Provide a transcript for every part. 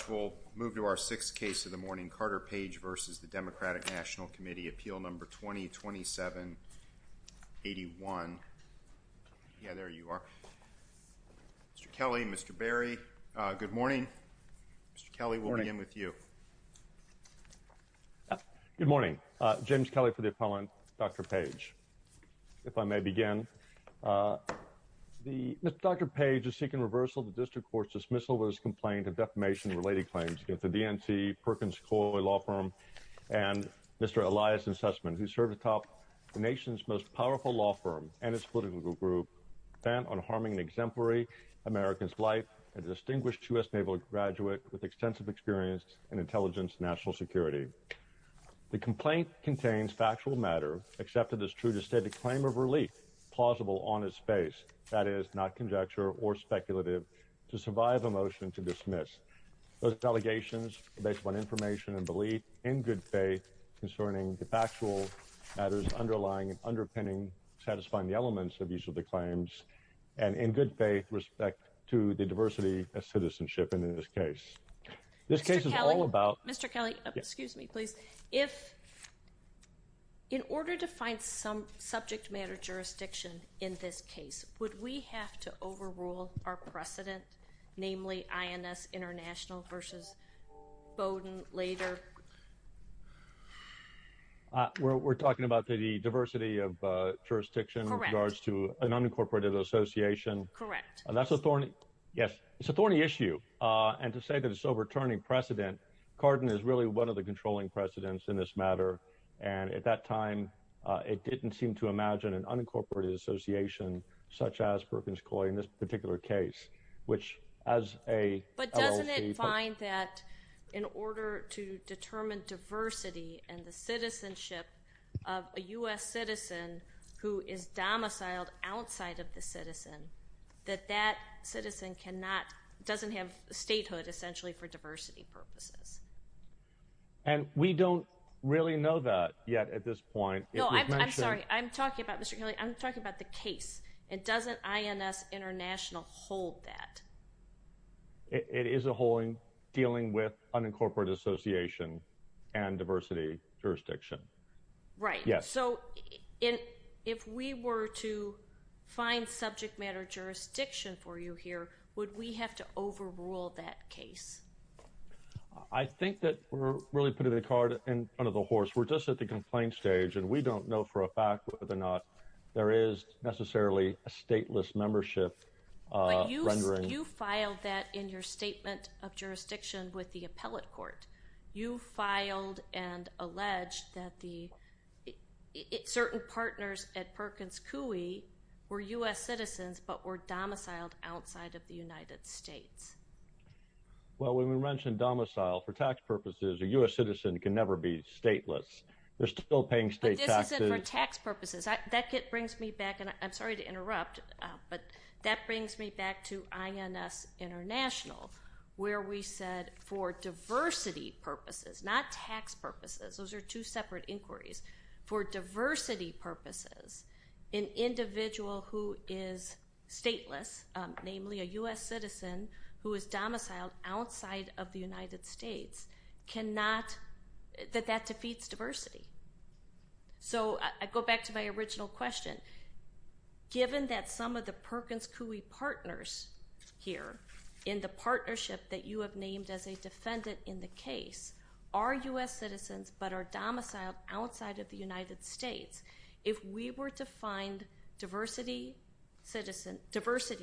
Appeal Number 20-27-81. Yeah, there you are. Mr. Kelly, Mr. Berry, good morning. Mr. Kelly, we'll begin with you. Good morning. James Kelly for the appellant, Dr. Page. If I may begin. Dr. Page is seeking reversal of the district court's dismissal of his complaint of defamation-related claims against the DNC, Perkins-Coy Law Firm, and Mr. Elias and Sussman, who serve atop the nation's most powerful law firm and its political group, bent on harming an exemplary American's life, a distinguished U.S. Naval graduate with extensive experience in intelligence and national security. The complaint contains factual matter, accepted as true to state a claim of relief, plausible on its face, that is, not conjecture or speculative, to survive a motion to dismiss. Those allegations are based upon information and belief, in good faith, concerning the factual matters underlying and underpinning, satisfying the elements of each of the claims, and in good faith, respect to the diversity of citizenship in this case. This case is all about... Mr. Kelly, Mr. Kelly, excuse me please. If, in order to find some precedent, namely INS International versus Bowdoin later... We're talking about the diversity of jurisdiction in regards to an unincorporated association? Correct. That's a thorny, yes, it's a thorny issue, and to say that it's overturning precedent, Cardin is really one of the controlling precedents in this matter, and at that time, it didn't seem to imagine an unincorporated association such as Perkins-Coy in this particular case, which as a... But doesn't it find that in order to determine diversity and the citizenship of a U.S. citizen who is domiciled outside of the citizen, that that citizen cannot, doesn't have statehood essentially for diversity purposes? And we don't really know that yet at this point. No, I'm sorry, I'm talking about, Mr. Kelly, I'm talking about the case, and doesn't INS International hold that? It is a holding dealing with unincorporated association and diversity jurisdiction. Right. Yes. So, if we were to find subject matter jurisdiction for you here, would we have to overrule that case? I think that we're really putting the card in front of the horse. We're just at the complaint stage, and we don't know for a fact whether or not there is necessarily a stateless membership. You filed that in your statement of jurisdiction with the appellate court. You filed and alleged that certain partners at Perkins-Coy were U.S. citizens but were domiciled outside of the United States. Well, when we mention domicile for tax purposes, a U.S. citizen can never be stateless. They're still paying state taxes. But this isn't for tax purposes. That brings me back, and I'm sorry to interrupt, but that brings me back to INS International, where we said for diversity purposes, not tax purposes. Those are two separate inquiries. For diversity purposes, an individual who is stateless, namely a U.S. citizen who is domiciled outside of the United States, cannot, that that defeats diversity. So I go back to my original question. Given that some of the Perkins-Coy partners here in the partnership that you have named as a defendant in the case are U.S. citizens but are domiciled outside of the United States, if we were to find diversity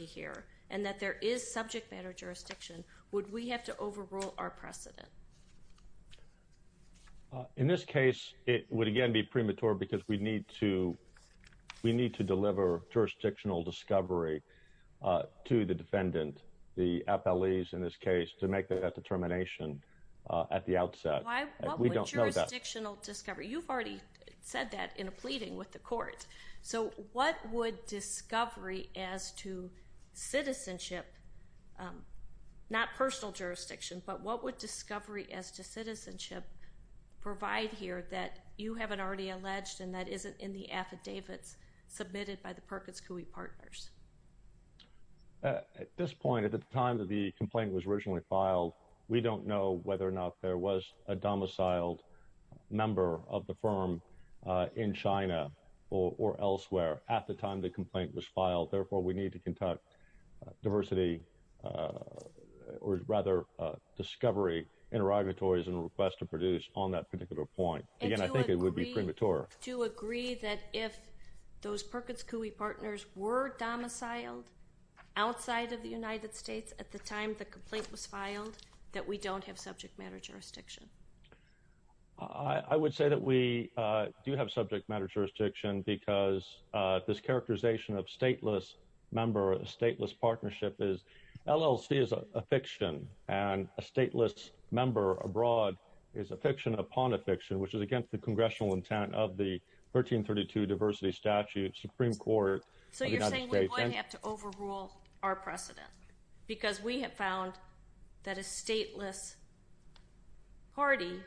here and that there is subject matter jurisdiction, would we have to overrule our precedent? In this case, it would again be premature because we need to deliver jurisdictional discovery to the defendant, the FLEs in this case, to make that determination at the outset. Why would jurisdictional discovery? You've already said that in a pleading with the courts. So what would discovery as to citizenship, not personal jurisdiction, but what would discovery as to citizenship provide here that you haven't already alleged and that isn't in the affidavits submitted by the Perkins-Coy partners? At this point, at the time that the complaint was originally filed, we don't know whether or not there was a domiciled member of the firm in China or elsewhere at the time the complaint was filed. Therefore, we need to conduct diversity or rather discovery interrogatories and requests to produce on that particular point. Again, I think it would be premature. Do you agree that if those Perkins-Coy partners were domiciled outside of the United States at the time the complaint was filed that we don't have subject matter jurisdiction? I would say that we do have subject matter jurisdiction because this characterization of stateless member, a stateless partnership is, LLC is a fiction and a stateless member abroad is a fiction upon a fiction, which is against the congressional intent of the 1332 Diversity Statute, Supreme Court. So you're saying we might have to overrule our party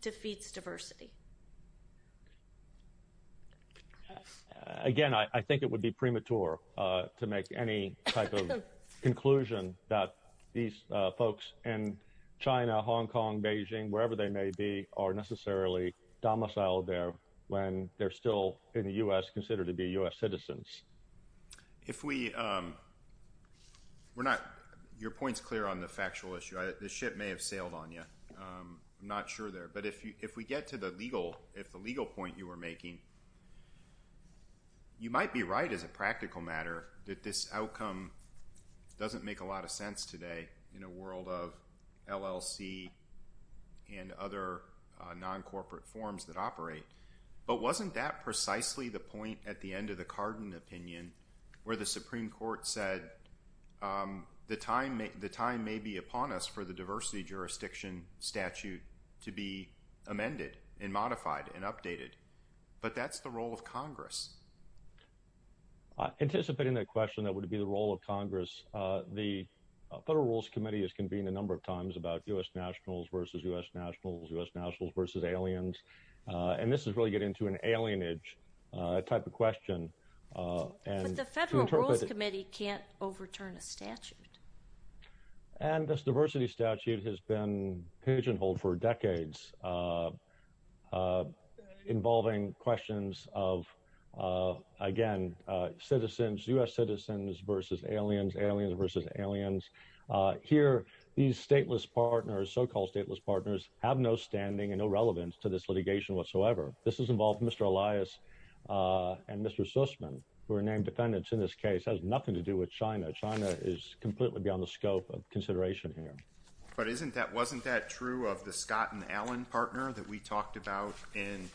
defeats diversity. Again, I think it would be premature to make any type of conclusion that these folks in China, Hong Kong, Beijing, wherever they may be, are necessarily domiciled there when they're still in the U.S., considered to be U.S. citizens. If we, we're not, your point's clear on the I'm not sure there, but if we get to the legal, if the legal point you were making, you might be right as a practical matter that this outcome doesn't make a lot of sense today in a world of LLC and other non-corporate forms that operate. But wasn't that precisely the point at the end of the Cardin opinion where the Supreme Court said the time may be upon us for the Jurisdiction Statute to be amended and modified and updated. But that's the role of Congress. Anticipating that question, that would be the role of Congress. The Federal Rules Committee has convened a number of times about U.S. nationals versus U.S. nationals, U.S. nationals versus aliens. And this is really getting into an alienage type of question. And the Federal Rules Committee can't overturn a statute. And this diversity statute has been pigeonholed for decades, involving questions of, again, citizens, U.S. citizens versus aliens, aliens versus aliens. Here, these stateless partners, so-called stateless partners, have no standing and no relevance to this litigation whatsoever. This has involved Mr. Elias and Mr. Sussman, who are named defendants in this case, has nothing to do with China. China is completely beyond the scope of consideration here. But isn't that, wasn't that true of the Scott and Allen partner that we talked about in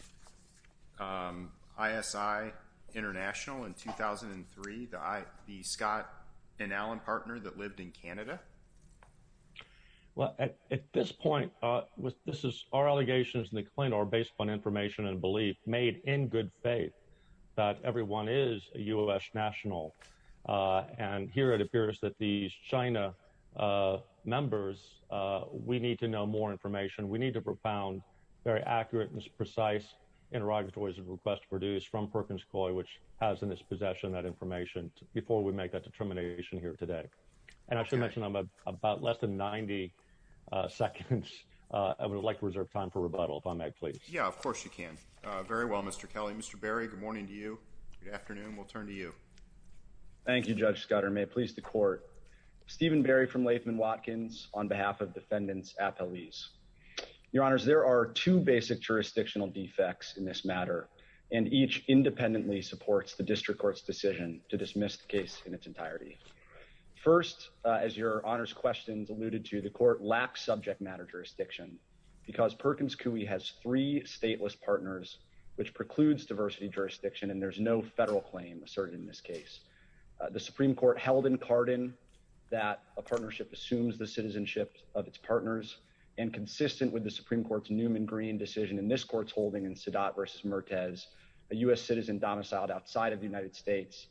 ISI International in 2003, the Scott and Allen partner that lived in Canada? Well, at this point, this is, our allegations in the claim are based on information and belief made in good faith that everyone is a U.S. national. And here it appears that these China members, we need to know more information. We need to propound very accurate and precise interrogatories of requests produced from Perkins Coie, which has in its possession that information before we make that determination here today. And I should mention I'm about less than 90 seconds. I would like to reserve time for rebuttal if I may, please. Yeah, of course you can. Very well, Mr. Kelly. Mr. Berry, good morning to you. Good afternoon. We'll turn to you. Thank you, Judge Scudder. May it please the court. Stephen Berry from Latham Watkins on behalf of defendants at police. Your honors, there are two basic jurisdictional defects in this matter and each independently supports the district court's decision to dismiss the case in its entirety. First, as your honors questions alluded to, the court lacks subject matter jurisdiction because Perkins Coie has three stateless partners, which precludes diversity jurisdiction and there's no federal claim asserted in this case. The Supreme Court held in Cardin that a partnership assumes the citizenship of its partners and consistent with the Supreme Court's Newman-Green decision in this court's holding in Sadat versus Mertes, a U.S. citizen domiciled outside of the United States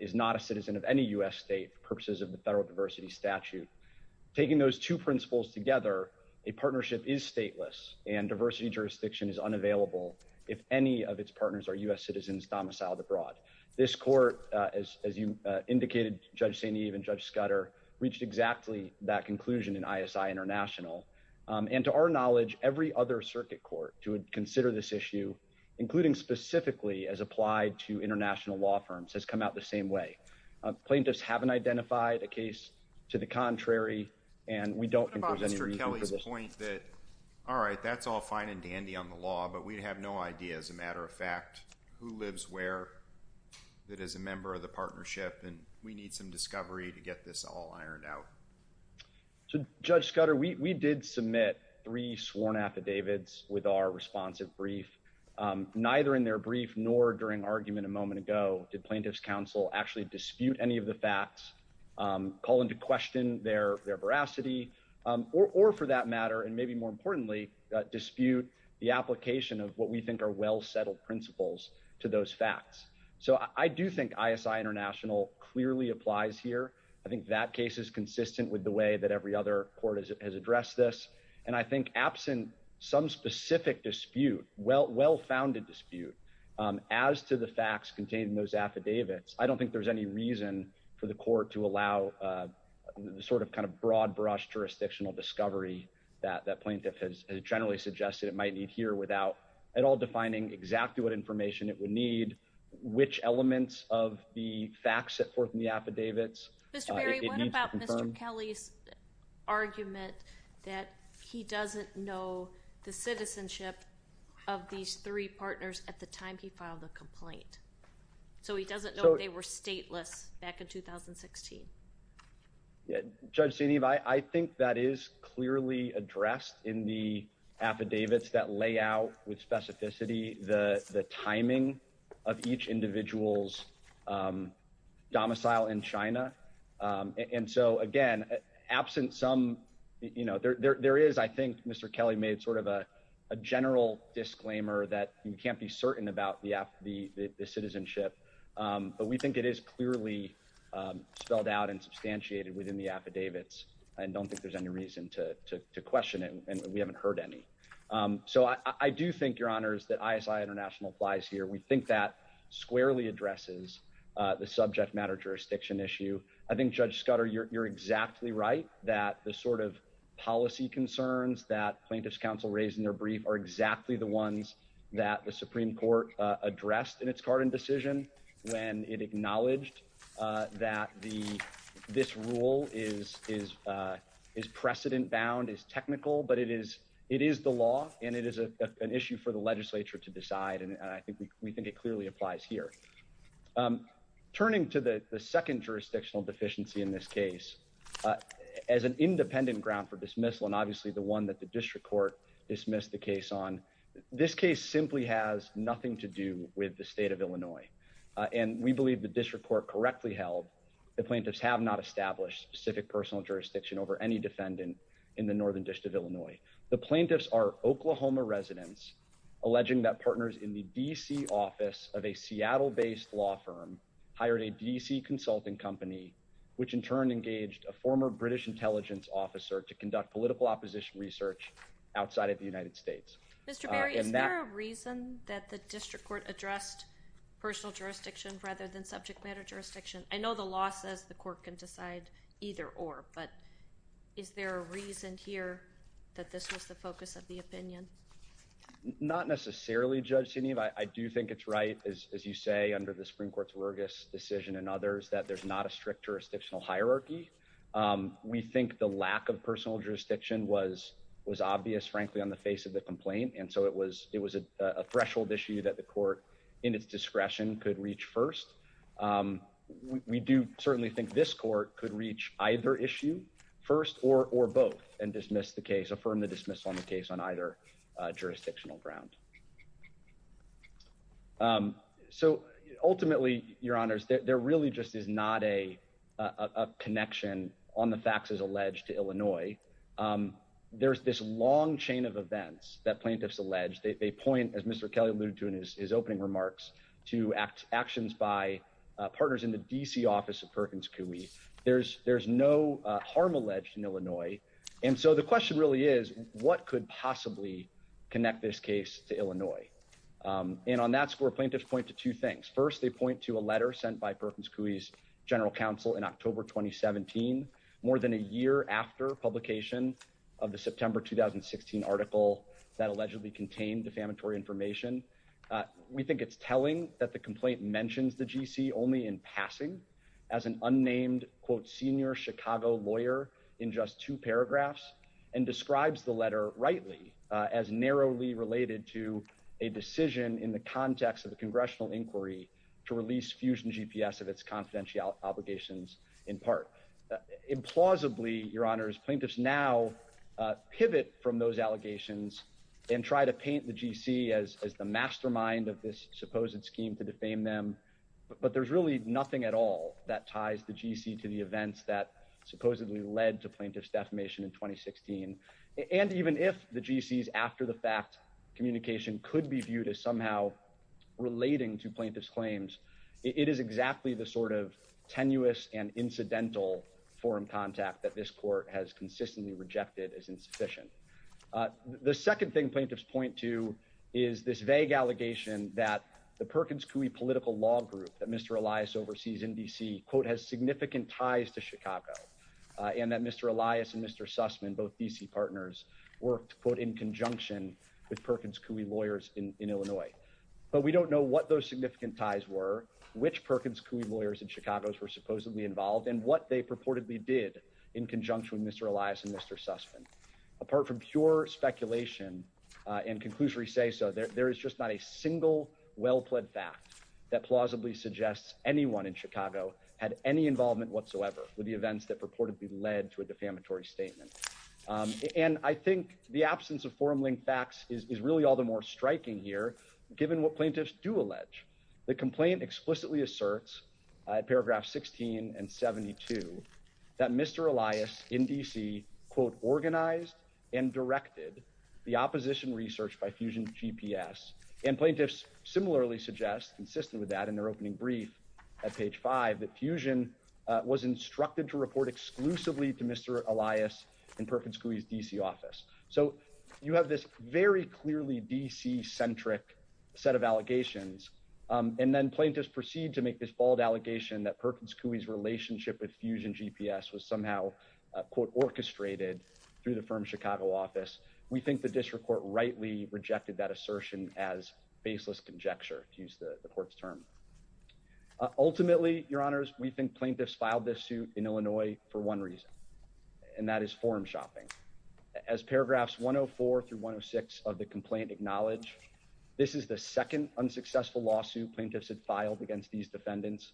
is not a citizen of any U.S. state purposes of the federal diversity statute. Taking those two principles together, a partnership is stateless and diversity jurisdiction is unavailable if any of its partners are U.S. citizens domiciled abroad. This court, as you indicated, Judge St. Eve and Judge Scudder reached exactly that conclusion in ISI International and to our knowledge every other circuit court to consider this issue, including specifically as applied to international law firms, has come out the same way. Plaintiffs haven't identified a case to the contrary and we don't think there's any reason for this. What about Mr. Kelly's point that, all right, that's all fine and dandy on the law, but we have no idea, as a matter of fact, who lives where that is a member of the partnership and we need some discovery to get this all ironed out? So, Judge Scudder, we did submit three sworn affidavits with our responsive brief. Neither in their brief nor during argument a moment ago did plaintiffs counsel actually dispute any of the facts, call into question their veracity, or for that matter and maybe more importantly dispute the application of what we think are well-settled principles to those facts. So, I do think ISI International clearly applies here. I think that case is consistent with the way that every other court has addressed this and I think absent some specific dispute, well-founded dispute, as to the facts contained in those affidavits, I don't think there's any reason for the court to allow the sort of kind of broad-brush jurisdictional discovery that that plaintiff has generally suggested it might need here without at all defining exactly what information it would need, which elements of the facts set forth in the affidavits. Mr. Berry, what about Mr. Kelly's argument that he doesn't know the citizenship of these three partners at the time he filed the complaint? So, he doesn't know they were stateless back in 2016. Yeah, Judge Senev, I think that is clearly addressed in the affidavits that lay out with specificity the timing of each individual's domicile in China. And so, again, absent some, you know, there is, I think, Mr. Kelly made sort of a general disclaimer that you can't be certain about the citizenship, but we think it is clearly spelled out and substantiated within the affidavits. We do think, Your Honors, that ISI International applies here. We think that squarely addresses the subject matter jurisdiction issue. I think, Judge Scudder, you're exactly right that the sort of policy concerns that Plaintiffs' Counsel raised in their brief are exactly the ones that the Supreme Court addressed in its Carden decision when it acknowledged that this rule is precedent-bound, is technical, but it is the law, and it is an issue for the legislature to decide, and I think we think it clearly applies here. Turning to the second jurisdictional deficiency in this case, as an independent ground for dismissal, and obviously the one that the District Court dismissed the case on, this case simply has nothing to do with the State of Illinois, and we believe the District Court correctly held the Plaintiffs have not established specific jurisdiction over any defendant in the Northern District of Illinois. The Plaintiffs are Oklahoma residents, alleging that partners in the D.C. office of a Seattle-based law firm hired a D.C. consulting company, which in turn engaged a former British intelligence officer to conduct political opposition research outside of the United States. Mr. Barry, is there a reason that the District Court addressed personal jurisdiction rather than subject matter jurisdiction? I know the law says the court can decide either or, but is there a reason here that this was the focus of the opinion? Not necessarily, Judge Sidney. I do think it's right, as you say, under the Supreme Court's Rergis decision and others, that there's not a strict jurisdictional hierarchy. We think the lack of personal jurisdiction was obvious, frankly, on the face of the complaint, and so it was a threshold issue that the court in its discretion could reach first. We do certainly think this court could reach either issue first or both and dismiss the case, affirm the dismissal on the case on either jurisdictional ground. So ultimately, Your Honors, there really just is not a connection on the faxes alleged to Illinois. There's this long chain of events that plaintiffs allege. They point, as Mr. Kelly alluded to in his opening remarks, to actions by partners in the D.C. office of Perkins Coie. There's no harm alleged in Illinois, and so the question really is, what could possibly connect this case to Illinois? And on that score, plaintiffs point to two things. First, they point to a letter sent by Perkins Coie's general counsel in October 2017, more than a year after publication of the September 2016 article that allegedly contained defamatory information. We think it's telling that the complaint mentions the D.C. only in passing as an unnamed, quote, senior Chicago lawyer in just two paragraphs, and describes the letter rightly as narrowly related to a decision in the context of the congressional inquiry to release GPS of its confidential obligations in part. Implausibly, Your Honors, plaintiffs now pivot from those allegations and try to paint the G.C. as the mastermind of this supposed scheme to defame them, but there's really nothing at all that ties the G.C. to the events that supposedly led to plaintiffs' defamation in 2016. And even if the G.C.'s after-the-fact communication could be viewed as somehow relating to plaintiffs' claims, it is exactly the sort of tenuous and incidental forum contact that this court has consistently rejected as insufficient. The second thing plaintiffs point to is this vague allegation that the Perkins Coie political law group that Mr. Elias oversees in D.C., quote, has significant ties to Chicago, and that Mr. Elias and Mr. Sussman, both D.C. partners, worked, quote, in conjunction with in Illinois. But we don't know what those significant ties were, which Perkins Coie lawyers in Chicago were supposedly involved, and what they purportedly did in conjunction with Mr. Elias and Mr. Sussman. Apart from pure speculation and conclusory say-so, there is just not a single well-pled fact that plausibly suggests anyone in Chicago had any involvement whatsoever with the events that purportedly led to a defamatory statement. And I think the absence of forum-linked facts is really all the more striking here, given what plaintiffs do allege. The complaint explicitly asserts, paragraph 16 and 72, that Mr. Elias in D.C., quote, organized and directed the opposition research by Fusion GPS. And plaintiffs similarly suggest, consistent with that in their opening brief at page 5, that Fusion was instructed to report exclusively to have this very clearly D.C.-centric set of allegations. And then plaintiffs proceed to make this bold allegation that Perkins Coie's relationship with Fusion GPS was somehow, quote, orchestrated through the firm's Chicago office. We think the district court rightly rejected that assertion as baseless conjecture, to use the court's term. Ultimately, Your Honors, we think plaintiffs filed this suit in Illinois for one reason, and that is forum shopping. As paragraphs 104 through 106 of the complaint acknowledge, this is the second unsuccessful lawsuit plaintiffs had filed against these defendants,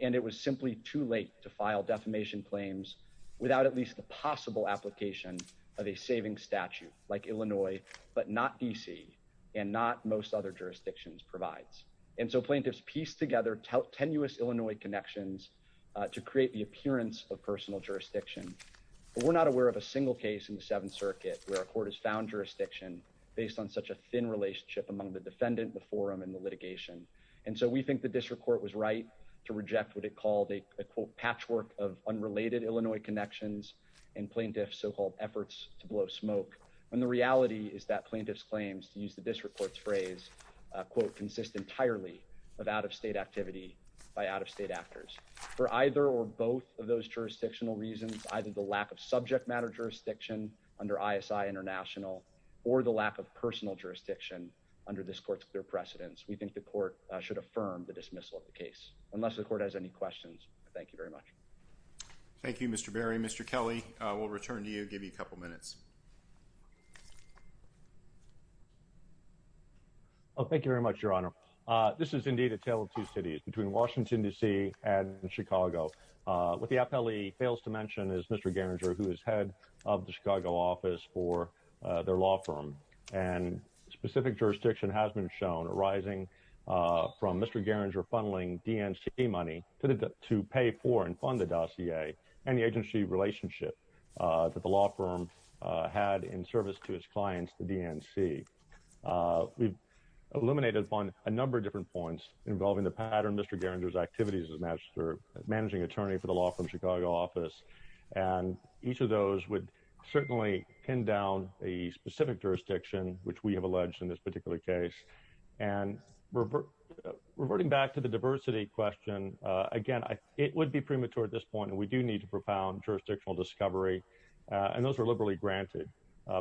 and it was simply too late to file defamation claims without at least the possible application of a saving statute, like Illinois, but not D.C., and not most other jurisdictions provides. And so plaintiffs piece together tenuous Illinois connections to create the appearance of personal jurisdiction. But we're not aware of a single case in the Seventh Circuit where a court has found jurisdiction based on such a thin relationship among the defendant, the forum, and the litigation. And so we think the district court was right to reject what it called a, quote, patchwork of unrelated Illinois connections and plaintiffs' so-called efforts to blow smoke, when the reality is that plaintiffs' claims, to use the district court's phrase, quote, consist entirely of out-of-state activity by out-of-state actors. For either or both of those jurisdictional reasons, either the lack of subject matter jurisdiction under ISI International or the lack of personal jurisdiction under this court's clear precedence, we think the court should affirm the dismissal of the case. Unless the court has any questions, I thank you very much. Thank you, Mr. Berry. Mr. Kelly, we'll return to you and give you a couple minutes. Oh, thank you very much, Your Honor. This is indeed a tale of two cities, between Washington, D.C. and Chicago. What the appellee fails to mention is Mr. Garinger, who is head of the Chicago office for their law firm. And specific jurisdiction has been shown, arising from Mr. Garinger funneling DNC money to pay for and fund the dossier and the agency relationship that the law firm had in service to its clients, the DNC. We've eliminated upon a number of different points involving the pattern Mr. Garinger's activities as managing attorney for the law firm Chicago office. And each of those would certainly pin down a specific jurisdiction, which we have alleged in this particular case. And reverting back to the diversity question, again, it would be premature at this point, and we do need a profound jurisdictional discovery. And those are liberally granted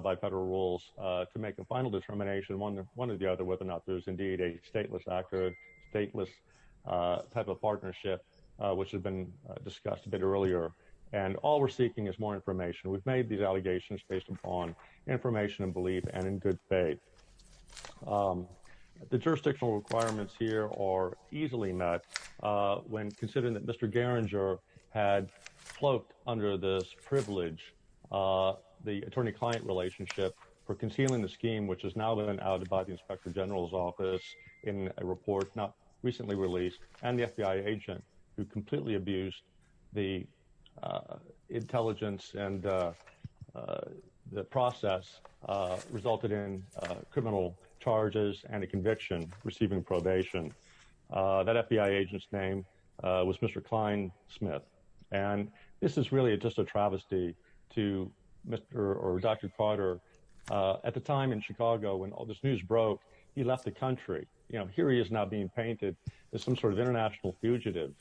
by federal rules to make a final determination, one or the other, whether or not there's indeed a stateless, accurate, stateless type of partnership, which has been discussed a bit earlier. And all we're seeking is more information. We've made these allegations based upon information and belief and in good faith. The jurisdictional requirements here are easily met when considering that Mr. Garinger had cloaked under this privilege the attorney-client relationship for concealing the scheme, which has now been added by the Inspector General's office in a report not recently released, and the FBI agent who completely abused the intelligence and the process, resulted in criminal charges and a conviction, receiving probation. That FBI agent's name was Mr. Cline Smith. And this is really just a travesty to Mr. or Dr. Carter. At the time, in Chicago, when all this news broke, he left the country. You know, here he is now being painted as some sort of international fugitive.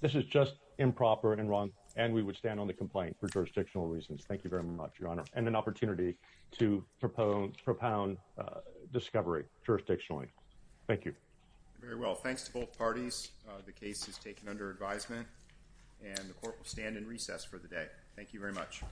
This is just improper and wrong, and we would stand on the complaint for jurisdictional reasons. Thank you very much, Your Honor, and an opportunity to propound discovery jurisdictionally. Thank you. Very well. Thanks to both parties. The case is taken under advisement, and the Court will stand in recess for the day. Thank you very much.